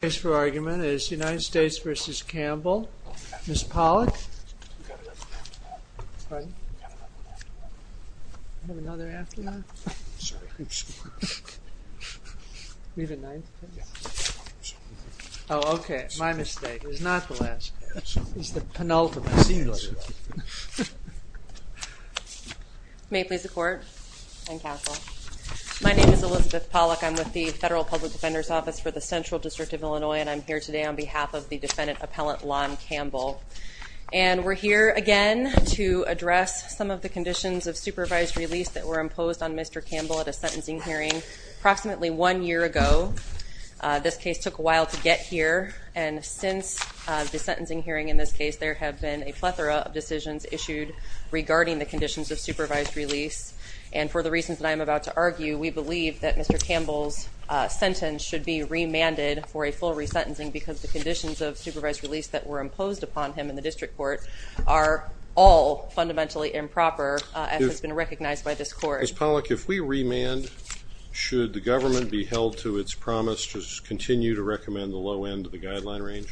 The case for argument is United States v. Campbell, Ms. Pollack. May it please the court and counsel. My name is Elizabeth Pollack. I'm with the Federal Public Defender's Office for the Central District of Illinois, and I'm here today on behalf of the defendant appellant, Lon Campbell. And we're here again to address some of the conditions of supervised release that were imposed on Mr. Campbell at a sentencing hearing approximately one year ago. This case took a while to get here, and since the sentencing hearing in this case, there have been a plethora of decisions issued regarding the conditions of supervised release. And for the reasons that I'm about to argue, we believe that Mr. Campbell's sentence should be remanded for a full resentencing because the conditions of supervised release that were imposed upon him in the district court are all fundamentally improper as has been recognized by this court. Ms. Pollack, if we remand, should the government be held to its promise to continue to recommend the low end of the guideline range?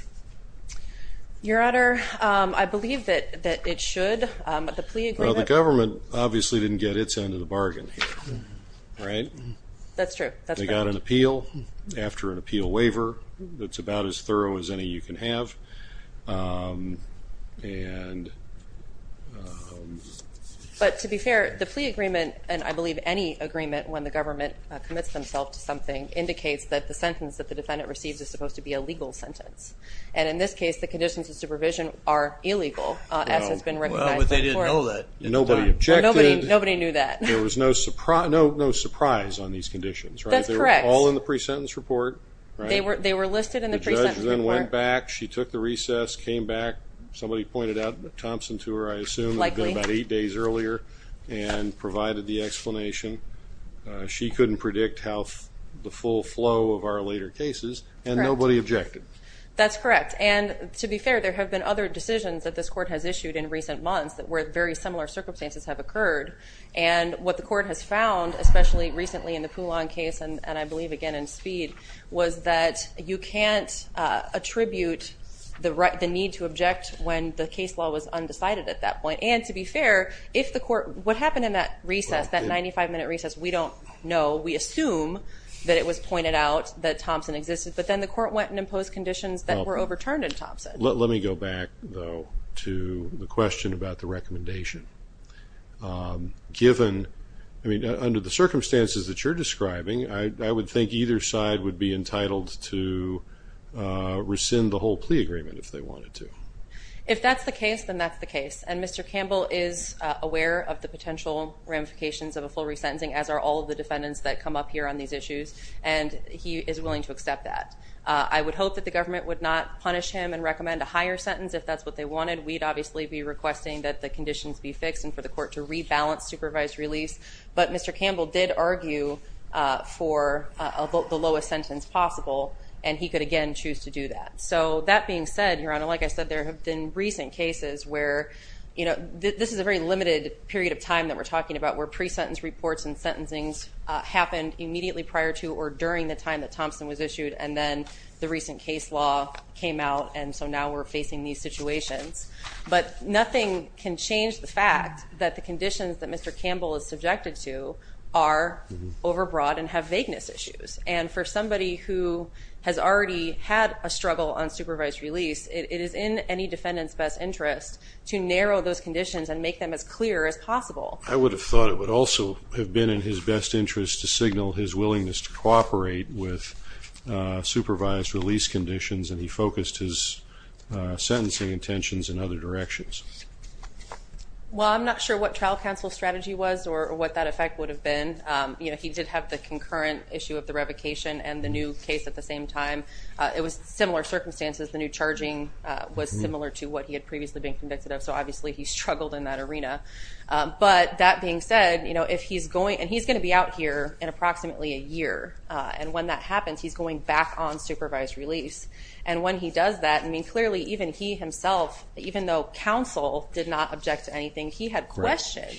Your Honor, I believe that it should. Well, the government obviously didn't get its end of the bargain here, right? That's true. They got an appeal after an appeal waiver that's about as thorough as any you can have. But to be fair, the plea agreement, and I believe any agreement when the government commits themselves to something, indicates that the sentence that the defendant receives is supposed to be a legal sentence. And in this case, the conditions of supervision are illegal as has been recognized by the court. Well, but they didn't know that at the time. Nobody objected. Nobody knew that. There was no surprise on these conditions, right? That's correct. They were all in the pre-sentence report, right? They were listed in the pre-sentence report. The judge then went back. She took the recess, came back. Somebody pointed out Thompson to her, I assume. Likely. About eight days earlier, and provided the explanation. She couldn't predict the full flow of our later cases, and nobody objected. That's correct. And to be fair, there have been other decisions that this court has issued in recent months that were very similar circumstances have occurred. And what the court has found, especially recently in the Poulon case, and I believe again in Speed, was that you can't attribute the need to object when the case law was undecided at that point. And to be fair, if the court, what happened in that recess, that 95-minute recess, we don't know. We assume that it was pointed out that Thompson existed. But then the court went and imposed conditions that were overturned in Thompson. Let me go back, though, to the question about the recommendation. Given, I mean, under the circumstances that you're describing, I would think either side would be entitled to rescind the whole plea agreement if they wanted to. If that's the case, then that's the case. And Mr. Campbell is aware of the potential ramifications of a full resentencing, as are all of the defendants that come up here on these issues, and he is willing to accept that. I would hope that the government would not punish him and recommend a higher sentence if that's what they wanted. We'd obviously be requesting that the conditions be fixed and for the court to rebalance supervised release. But Mr. Campbell did argue for the lowest sentence possible, and he could again choose to do that. So that being said, Your Honor, like I said, there have been recent cases where, you know, this is a very limited period of time that we're talking about where pre-sentence reports and sentencings happened immediately prior to or during the time that Thompson was issued, and then the recent case law came out, and so now we're facing these situations. But nothing can change the fact that the conditions that Mr. Campbell is subjected to are overbroad and have vagueness issues. And for somebody who has already had a struggle on supervised release, it is in any defendant's best interest to narrow those conditions and make them as clear as possible. I would have thought it would also have been in his best interest to signal his willingness to cooperate with supervised release conditions, and he focused his sentencing intentions in other directions. Well, I'm not sure what trial counsel strategy was or what that effect would have been. You know, he did have the concurrent issue of the revocation and the new case at the same time. It was similar circumstances. The new charging was similar to what he had previously been convicted of, so obviously he struggled in that arena. But that being said, you know, if he's going, and he's going to be out here in approximately a year, and when that happens, he's going back on supervised release. And when he does that, I mean, clearly even he himself, even though counsel did not object to anything, he had questions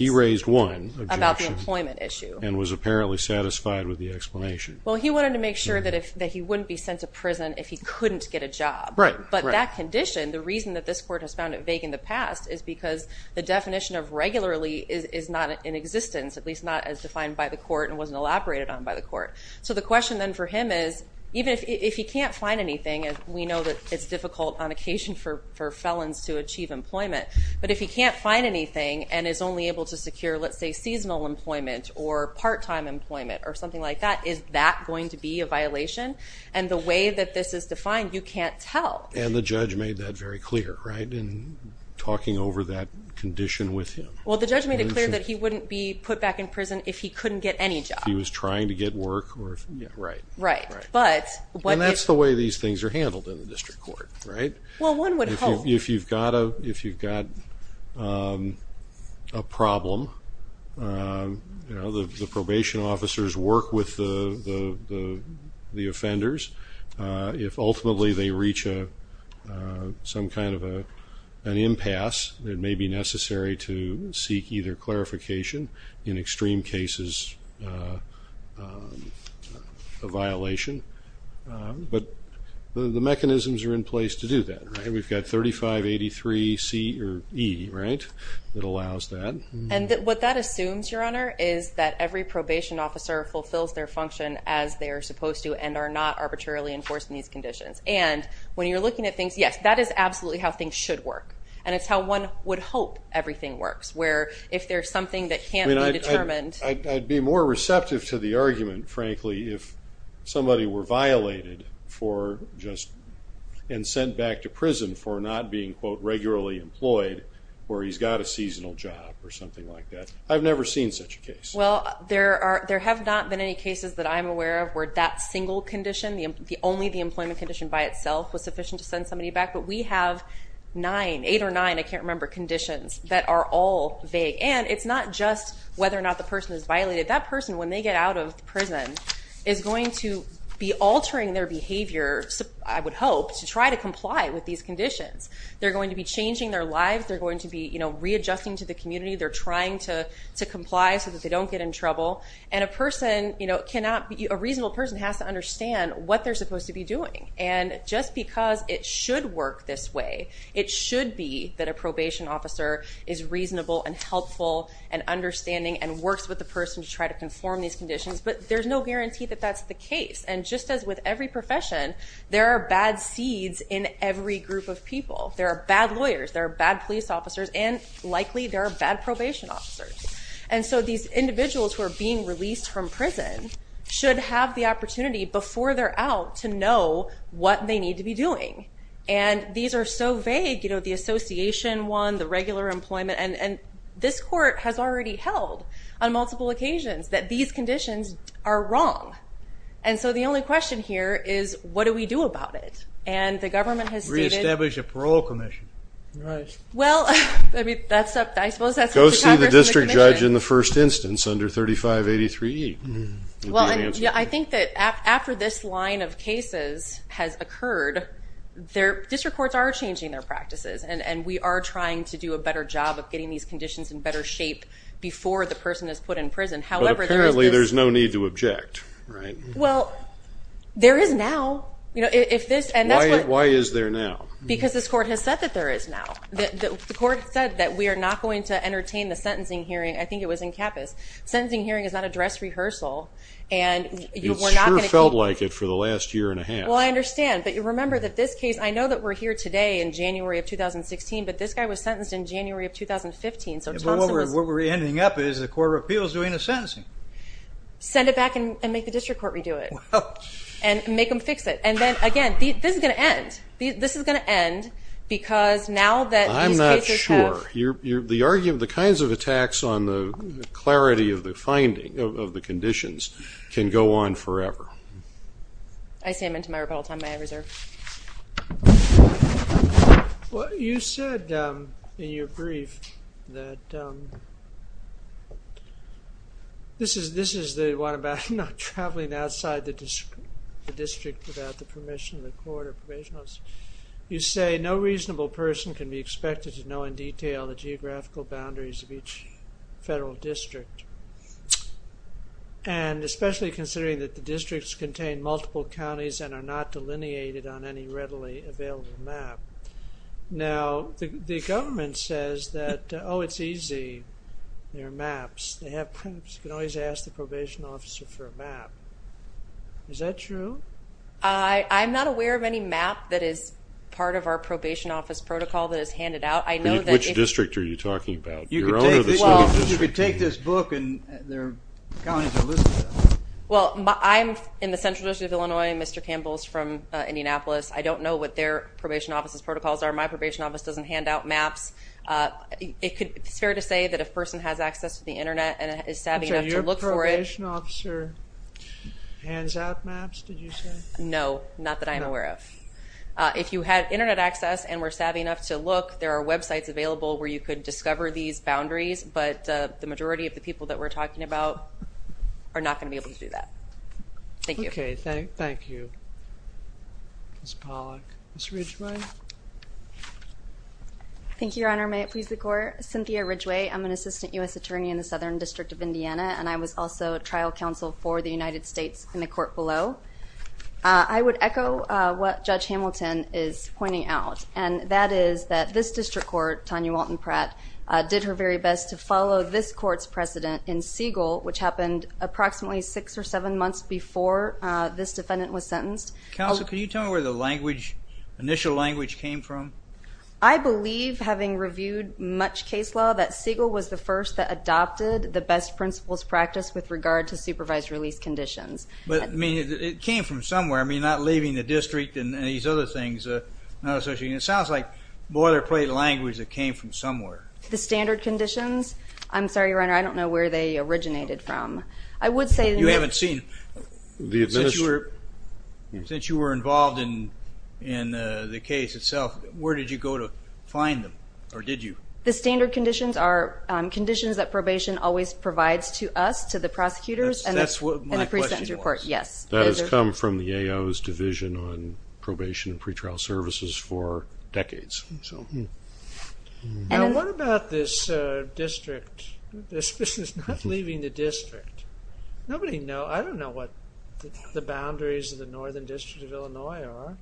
about the employment issue and was apparently satisfied with the explanation. Well, he wanted to make sure that he wouldn't be sent to prison if he couldn't get a job. Right, right. But that condition, the reason that this court has found it vague in the past, is because the definition of regularly is not in existence, at least not as defined by the court and wasn't elaborated on by the court. So the question then for him is, even if he can't find anything, and we know that it's difficult on occasion for felons to achieve employment, but if he can't find anything and is only able to secure, let's say, seasonal employment or part-time employment or something like that, is that going to be a violation? And the way that this is defined, you can't tell. And the judge made that very clear, right, in talking over that condition with him. Well, the judge made it clear that he wouldn't be put back in prison if he couldn't get any job. If he was trying to get work or if he didn't. Right. Right. And that's the way these things are handled in the district court, right? Well, one would hope. Well, if you've got a problem, you know, the probation officers work with the offenders. If ultimately they reach some kind of an impasse, it may be necessary to seek either clarification, in extreme cases a violation. But the mechanisms are in place to do that, right? We've got 3583E, right, that allows that. And what that assumes, Your Honor, is that every probation officer fulfills their function as they are supposed to and are not arbitrarily enforced in these conditions. And when you're looking at things, yes, that is absolutely how things should work. And it's how one would hope everything works, where if there's something that can't be determined. I'd be more receptive to the argument, frankly, if somebody were violated for just and sent back to prison for not being, quote, regularly employed or he's got a seasonal job or something like that. I've never seen such a case. Well, there have not been any cases that I'm aware of where that single condition, only the employment condition by itself was sufficient to send somebody back. But we have nine, eight or nine, I can't remember, conditions that are all vague. And it's not just whether or not the person is violated. That person, when they get out of prison, is going to be altering their behavior, I would hope, to try to comply with these conditions. They're going to be changing their lives. They're going to be readjusting to the community. They're trying to comply so that they don't get in trouble. And a reasonable person has to understand what they're supposed to be doing. And just because it should work this way, it should be that a probation officer is reasonable and helpful and understanding and works with the person to try to conform these conditions. But there's no guarantee that that's the case. And just as with every profession, there are bad seeds in every group of people. There are bad lawyers. There are bad police officers. And likely there are bad probation officers. And so these individuals who are being released from prison should have the opportunity, before they're out, to know what they need to be doing. And these are so vague, you know, the association one, the regular employment. And this court has already held on multiple occasions that these conditions are wrong. And so the only question here is, what do we do about it? And the government has stated. Reestablish a parole commission. Right. Well, I suppose that's what the Congress and the commission. Go see the district judge in the first instance under 3583E. I think that after this line of cases has occurred, district courts are changing their practices. And we are trying to do a better job of getting these conditions in better shape before the person is put in prison. But apparently there's no need to object, right? Well, there is now. Why is there now? Because this court has said that there is now. The court said that we are not going to entertain the sentencing hearing. I think it was in Capas. Sentencing hearing is not a dress rehearsal. It sure felt like it for the last year and a half. Well, I understand. But remember that this case, I know that we're here today in January of 2016, but this guy was sentenced in January of 2015. What we're ending up is the Court of Appeals doing the sentencing. Send it back and make the district court redo it. And make them fix it. And then, again, this is going to end. This is going to end because now that these cases have... I'm not sure. The argument, the kinds of attacks on the clarity of the finding of the conditions can go on forever. I say I'm into my rebuttal time. May I reserve? Well, you said in your brief that this is the one about not traveling outside the district without the permission of the court or probation office. You say no reasonable person can be expected to know in detail the geographical boundaries of each federal district. And especially considering that the districts contain multiple counties and are not delineated on any readily available map. Now, the government says that, oh, it's easy. There are maps. They have maps. You can always ask the probation officer for a map. Is that true? I'm not aware of any map that is part of our probation office protocol that is handed out. Which district are you talking about? Your own or the city district? You could take this book and their counties are listed on it. Well, I'm in the central district of Illinois. Mr. Campbell is from Indianapolis. I don't know what their probation office's protocols are. My probation office doesn't hand out maps. It's fair to say that if a person has access to the Internet and is savvy enough to look for it. So your probation officer hands out maps, did you say? No, not that I'm aware of. If you had Internet access and were savvy enough to look, there are websites available where you could discover these boundaries, but the majority of the people that we're talking about are not going to be able to do that. Thank you. Okay, thank you. Ms. Pollack. Ms. Ridgway. Thank you, Your Honor. May it please the Court. Cynthia Ridgway. I'm an assistant U.S. attorney in the Southern District of Indiana, and I was also trial counsel for the United States in the court below. I would echo what Judge Hamilton is pointing out, and that is that this district court, Tanya Walton Pratt, did her very best to follow this court's precedent in Siegel, which happened approximately six or seven months before this defendant was sentenced. Counsel, can you tell me where the initial language came from? I believe, having reviewed much case law, that Siegel was the first that adopted the best principles practice with regard to supervised release conditions. But, I mean, it came from somewhere. I mean, not leaving the district and these other things. It sounds like boilerplate language that came from somewhere. The standard conditions? I'm sorry, Your Honor, I don't know where they originated from. You haven't seen them? Since you were involved in the case itself, where did you go to find them, or did you? The standard conditions are conditions that probation always provides to us, to the prosecutors. That's what my question was. Yes. That has come from the AO's division on probation and pretrial services for decades. Now, what about this district? This is not leaving the district. Nobody knows. I don't know what the boundaries of the Northern District of Illinois are.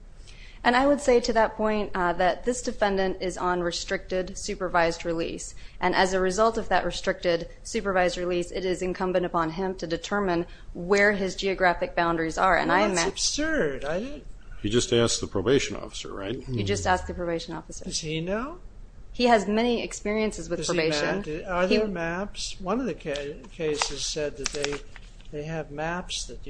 And I would say to that point that this defendant is on restricted supervised release, and as a result of that restricted supervised release, it is incumbent upon him to determine where his geographic boundaries are. Well, that's absurd. You just asked the probation officer, right? You just asked the probation officer. Does he know? He has many experiences with probation. Are there maps? One of the cases said that they have maps that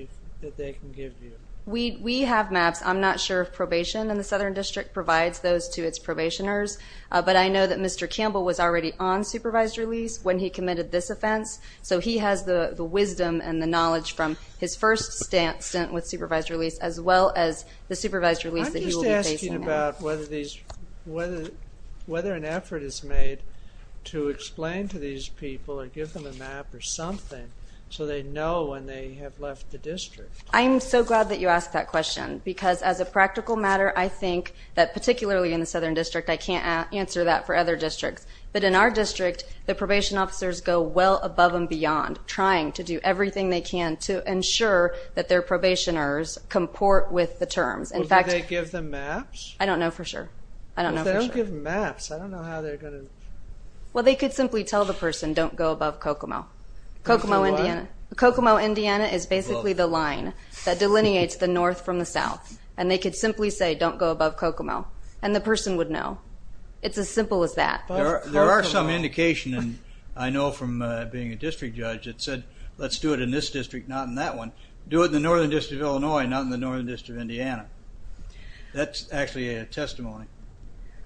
they can give you. We have maps. I'm not sure if probation in the Southern District provides those to its probationers. But I know that Mr. Campbell was already on supervised release when he committed this offense, so he has the wisdom and the knowledge from his first stint with supervised release as well as the supervised release that he will be facing now. I'm just asking about whether an effort is made to explain to these people or give them a map or something so they know when they have left the district. I'm so glad that you asked that question because, as a practical matter, I think that particularly in the Southern District, I can't answer that for other districts. But in our district, the probation officers go well above and beyond trying to do everything they can to ensure that their probationers comport with the terms. Well, do they give them maps? I don't know for sure. I don't know for sure. If they don't give maps, I don't know how they're going to. Well, they could simply tell the person, don't go above Kokomo. Kokomo, Indiana. Kokomo, Indiana is basically the line that delineates the north from the south. And they could simply say, don't go above Kokomo, and the person would know. It's as simple as that. There are some indication, and I know from being a district judge, that said, let's do it in this district, not in that one. Do it in the Northern District of Illinois, not in the Northern District of Indiana. That's actually a testimony.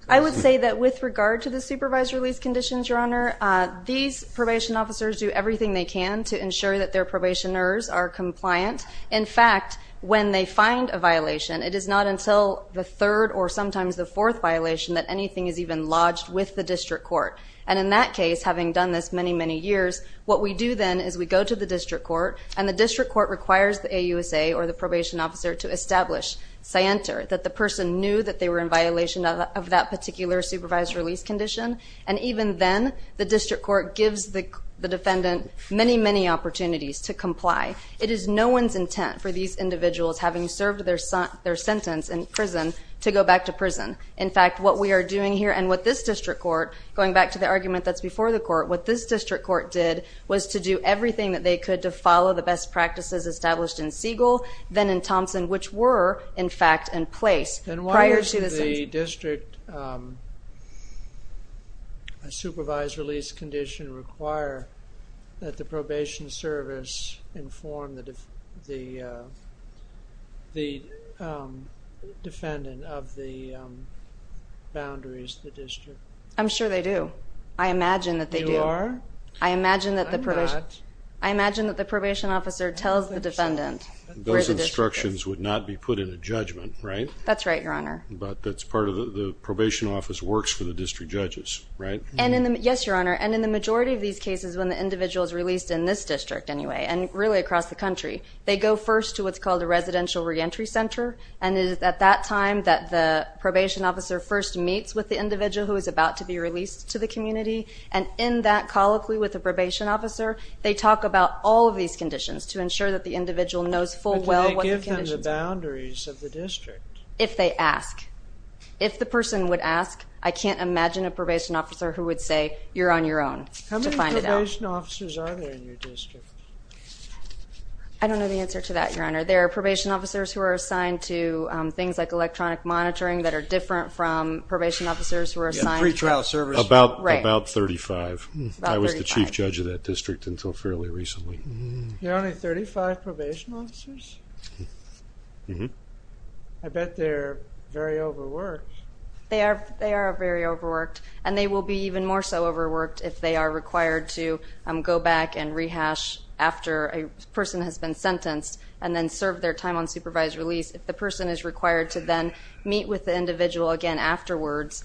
I would say that with regard to the supervised release conditions, Your Honor, these probation officers do everything they can to ensure that their probationers are compliant. In fact, when they find a violation, it is not until the third or sometimes the fourth violation that anything is even lodged with the district court. And in that case, having done this many, many years, what we do then is we go to the district court, and the district court requires the AUSA or the probation officer to establish scienter, that the person knew that they were in violation of that particular supervised release condition. And even then, the district court gives the defendant many, many opportunities to comply. It is no one's intent for these individuals, having served their sentence in prison, to go back to prison. In fact, what we are doing here and what this district court, going back to the argument that's before the court, what this district court did was to do everything that they could to follow the best practices established in Siegel, then in Thompson, which were, in fact, in place prior to the sentence. Does the district supervised release condition require that the probation service inform the defendant of the boundaries of the district? I'm sure they do. I imagine that they do. You are? I imagine that the probation officer tells the defendant where the district is. Those instructions would not be put in a judgment, right? That's right, Your Honor. But that's part of the probation office works for the district judges, right? Yes, Your Honor. And in the majority of these cases, when the individual is released in this district anyway, and really across the country, they go first to what's called a residential reentry center. And it is at that time that the probation officer first meets with the individual who is about to be released to the community. And in that colloquy with the probation officer, they talk about all of these conditions to ensure that the individual knows full well what the conditions are. But do they give them the boundaries of the district? If they ask. If the person would ask, I can't imagine a probation officer who would say, you're on your own to find it out. How many probation officers are there in your district? I don't know the answer to that, Your Honor. There are probation officers who are assigned to things like electronic monitoring that are different from probation officers who are assigned to- Yeah, pretrial services. Right. About 35. About 35. I was the chief judge of that district until fairly recently. There are only 35 probation officers? Mm-hmm. I bet they're very overworked. They are very overworked. And they will be even more so overworked if they are required to go back and rehash after a person has been sentenced and then serve their time on supervised release, if the person is required to then meet with the individual again afterwards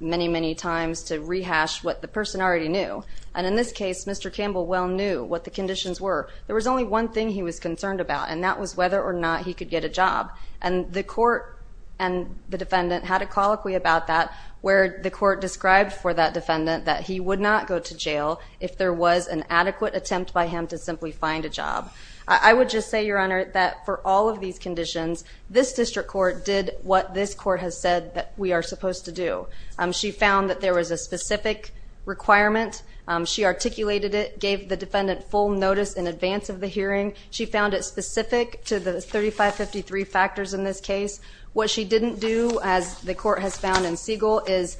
many, many times to rehash what the person already knew. And in this case, Mr. Campbell well knew what the conditions were. There was only one thing he was concerned about, and that was whether or not he could get a job. And the court and the defendant had a colloquy about that where the court described for that defendant that he would not go to jail if there was an adequate attempt by him to simply find a job. I would just say, Your Honor, that for all of these conditions, this district court did what this court has said that we are supposed to do. She found that there was a specific requirement. She articulated it, gave the defendant full notice in advance of the hearing. She found it specific to the 3553 factors in this case. What she didn't do, as the court has found in Siegel, is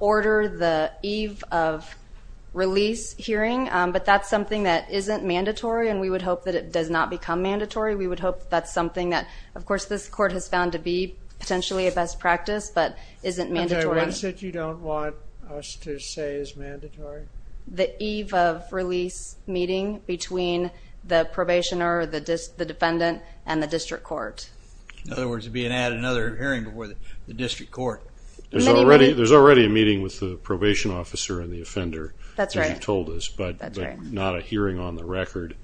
order the eve of release hearing. But that's something that isn't mandatory, and we would hope that it does not become mandatory. We would hope that's something that, of course, this court has found to be potentially a best practice but isn't mandatory. Okay, what is it you don't want us to say is mandatory? The eve of release meeting between the probationer, the defendant, and the district court. In other words, it would be another hearing before the district court. There's already a meeting with the probation officer and the offender, as you told us, but not a hearing on the record.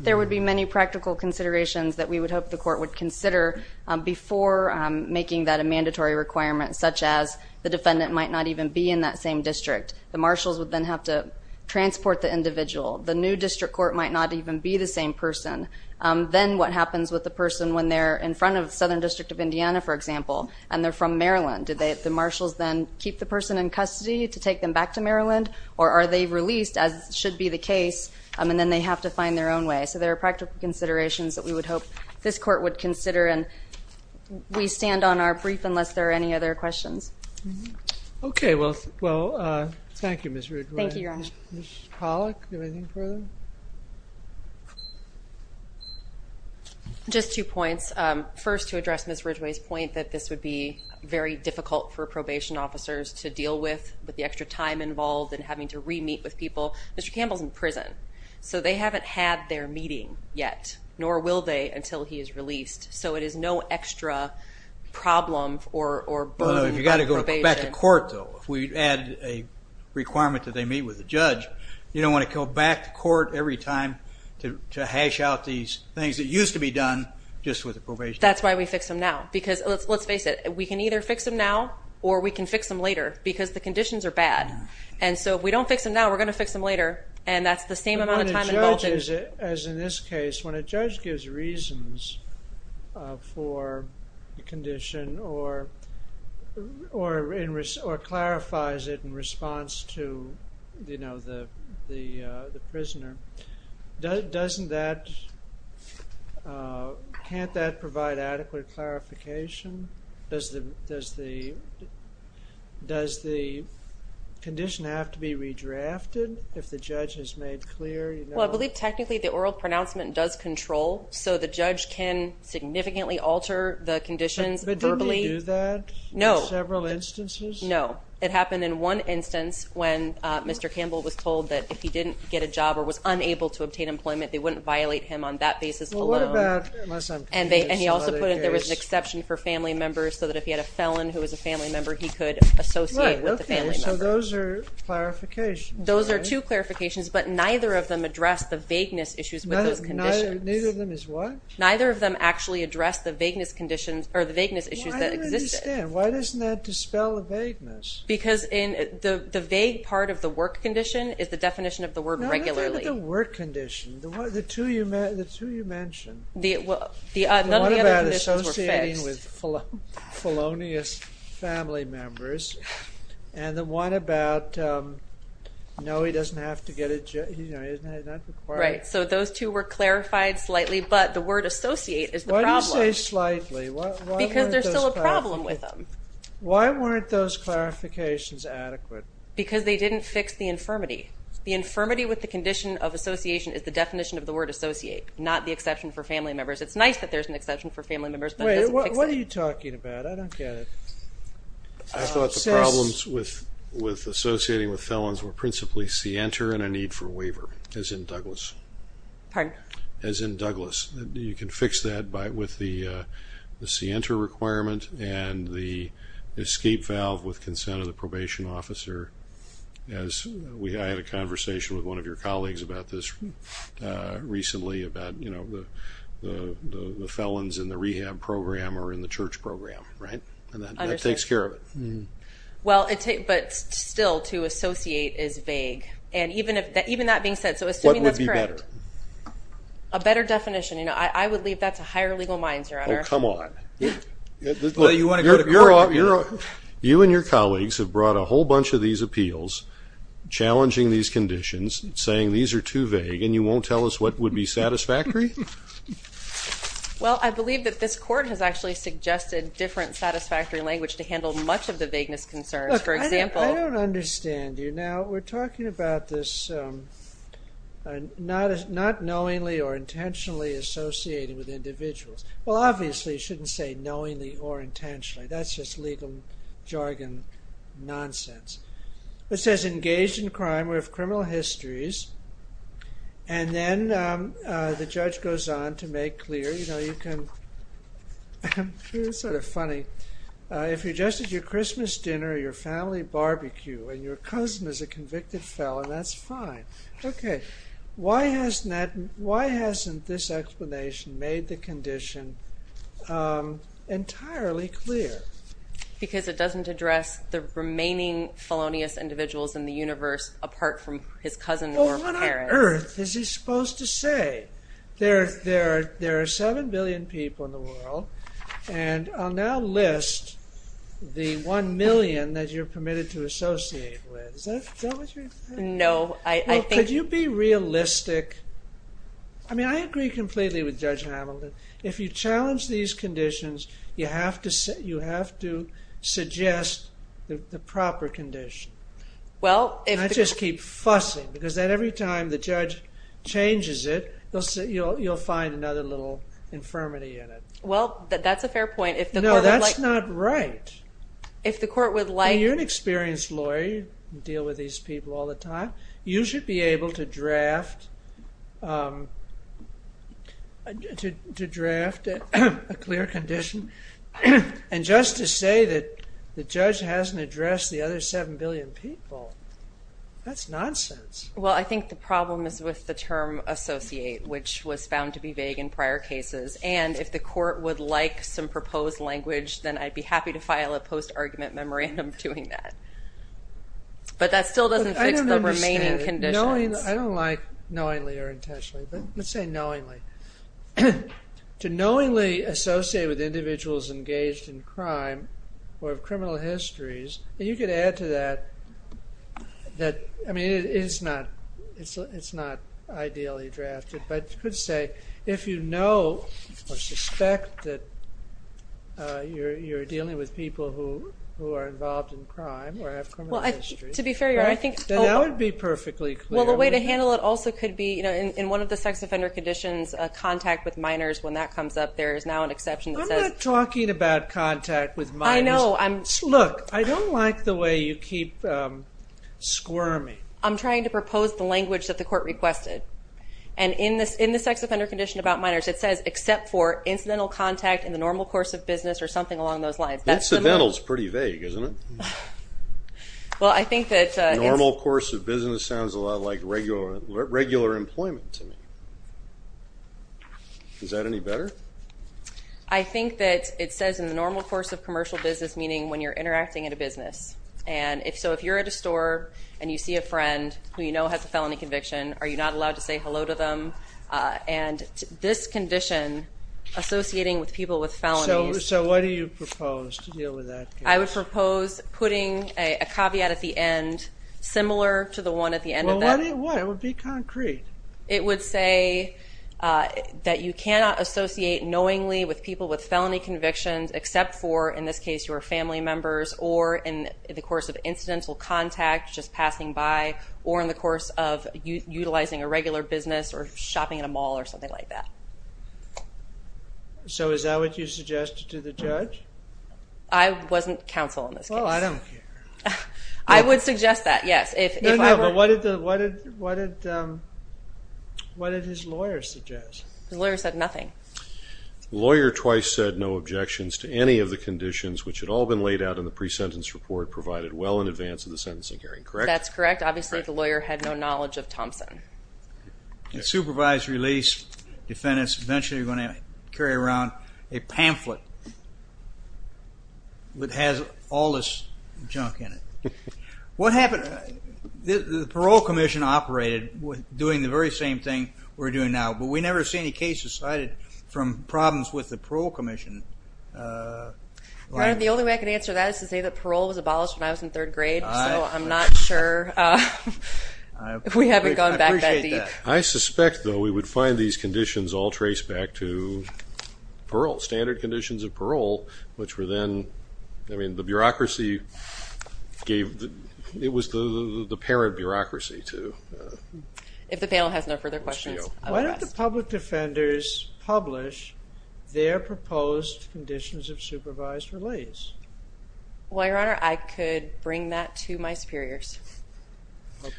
There would be many practical considerations that we would hope the court would consider before making that a mandatory requirement, such as the defendant might not even be in that same district. The marshals would then have to transport the individual. The new district court might not even be the same person. Then what happens with the person when they're in front of the Southern District of Indiana, for example, and they're from Maryland? Do the marshals then keep the person in custody to take them back to Maryland? Or are they released, as should be the case, and then they have to find their own way? So there are practical considerations that we would hope this court would consider and we stand on our brief unless there are any other questions. Okay, well, thank you, Ms. Ridgway. Thank you, Your Honor. Ms. Pollack, do you have anything further? Just two points. First, to address Ms. Ridgway's point that this would be very difficult for probation officers to deal with, with the extra time involved and having to re-meet with people. Mr. Campbell is in prison, so they haven't had their meeting yet, nor will they until he is released. So it is no extra problem or burden. You've got to go back to court, though. If we add a requirement that they meet with the judge, you don't want to go back to court every time to hash out these things that used to be done just with the probation. That's why we fix them now. Let's face it, we can either fix them now or we can fix them later because the conditions are bad. So if we don't fix them now, we're going to fix them later, and that's the same amount of time involved. As in this case, when a judge gives reasons for a condition or clarifies it in response to the prisoner, can't that provide adequate clarification? Does the condition have to be redrafted if the judge has made clear? Well, I believe technically the oral pronouncement does control, so the judge can significantly alter the conditions verbally. But didn't he do that in several instances? No. It happened in one instance when Mr. Campbell was told that if he didn't get a job or was unable to obtain employment, they wouldn't violate him on that basis alone. Well, what about unless I'm confused in another case? And he also put in there was an exception for family members so that if he had a felon who was a family member, he could associate with the family member. Right, okay, so those are clarifications, right? Those are two clarifications, but neither of them address the vagueness issues with those conditions. Neither of them is what? Neither of them actually address the vagueness issues that existed. Well, I don't understand. Why doesn't that dispel the vagueness? Because the vague part of the work condition is the definition of the word regularly. No, I'm talking about the work condition, the two you mentioned. None of the other conditions were fixed. The one about associating with felonious family members and the one about no, he doesn't have to get a job. Right, so those two were clarified slightly, but the word associate is the problem. Why do you say slightly? Because there's still a problem with them. Why weren't those clarifications adequate? Because they didn't fix the infirmity. The infirmity with the condition of association is the definition of the word associate, not the exception for family members. It's nice that there's an exception for family members, but it doesn't fix it. Wait, what are you talking about? I don't get it. I thought the problems with associating with felons were principally CENTER and a need for a waiver, as in Douglas. Pardon? As in Douglas. You can fix that with the CENTER requirement and the escape valve with consent of the probation officer. I had a conversation with one of your colleagues about this recently, about the felons in the rehab program or in the church program, right? And that takes care of it. Well, but still, to associate is vague. And even that being said, so assuming that's correct. What would be better? A better definition. I would leave that to higher legal minds, Your Honor. Oh, come on. You and your colleagues have brought a whole bunch of these appeals, challenging these conditions, saying these are too vague, and you won't tell us what would be satisfactory? Well, I believe that this court has actually suggested different satisfactory language to handle much of the vagueness concerns. Look, I don't understand you. Now, we're talking about this not knowingly or intentionally associating with individuals. Well, obviously, you shouldn't say knowingly or intentionally. That's just legal jargon nonsense. It says engaged in crime with criminal histories, and then the judge goes on to make clear, you know, you can sort of funny, if you're just at your Christmas dinner or your family barbecue, and your cousin is a convicted felon, that's fine. Okay. Why hasn't this explanation made the condition entirely clear? Because it doesn't address the remaining felonious individuals in the universe apart from his cousin or parents. Well, what on earth is he supposed to say? There are 7 billion people in the world, and I'll now list the 1 million that you're permitted to associate with. Is that what you're saying? No. Could you be realistic? I mean, I agree completely with Judge Hamilton. If you challenge these conditions, you have to suggest the proper condition. I just keep fussing because every time the judge changes it, you'll find another little infirmity in it. Well, that's a fair point. No, that's not right. If the court would like... You're an experienced lawyer. You deal with these people all the time. You should be able to draft a clear condition. And just to say that the judge hasn't addressed the other 7 billion people, that's nonsense. Well, I think the problem is with the term associate, which was found to be vague in prior cases. And if the court would like some proposed language, then I'd be happy to file a post-argument memorandum doing that. But that still doesn't fix the remaining conditions. I don't like knowingly or intentionally, but let's say knowingly. To knowingly associate with individuals engaged in crime or have criminal histories, and you could add to that that it's not ideally drafted, but you could say if you know or suspect that you're dealing with people who are involved in crime or have criminal histories, then that would be perfectly clear. Well, the way to handle it also could be, in one of the sex offender conditions, contact with minors. When that comes up, there is now an exception that says. I'm not talking about contact with minors. I know. Look, I don't like the way you keep squirming. I'm trying to propose the language that the court requested. And in the sex offender condition about minors, it says, except for incidental contact in the normal course of business or something along those lines. Incidental is pretty vague, isn't it? Well, I think that. Normal course of business sounds a lot like regular employment to me. Is that any better? I think that it says in the normal course of commercial business, meaning when you're interacting at a business. And if so, if you're at a store and you see a friend who you know has a felony conviction, are you not allowed to say hello to them? And this condition associating with people with felonies. So what do you propose to deal with that? I would propose putting a caveat at the end, similar to the one at the end of that. Why? It would be concrete. It would say that you cannot associate knowingly with people with felony convictions, except for, in this case, your family members or in the course of incidental contact, just passing by, or in the course of utilizing a regular business or shopping at a mall or something like that. So is that what you suggested to the judge? I wasn't counsel in this case. Oh, I don't care. I would suggest that, yes, if I were. No, no, but what did his lawyer suggest? His lawyer said nothing. The lawyer twice said no objections to any of the conditions which had all been laid out in the pre-sentence report provided well in advance of the sentencing hearing, correct? That's correct. Obviously the lawyer had no knowledge of Thompson. In supervised release, defendants eventually are going to carry around a pamphlet that has all this junk in it. What happened? The parole commission operated doing the very same thing we're doing now, but we never see any cases cited from problems with the parole commission. The only way I can answer that is to say that parole was abolished when I was in third grade, so I'm not sure. We haven't gone back that deep. I suspect, though, we would find these conditions all traced back to parole, standard conditions of parole, which were then, I mean, the bureaucracy gave the, it was the parent bureaucracy to. If the panel has no further questions, I will ask. Why don't the public defenders publish their proposed conditions of supervised release? Well, Your Honor, I could bring that to my superiors.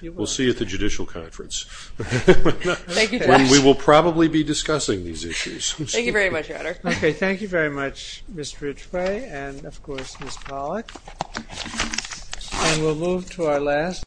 We'll see at the judicial conference. We will probably be discussing these issues. Thank you very much, Your Honor. Okay. Thank you very much, Mr. Ritchway and, of course, Ms. Pollack. And we'll move to our last.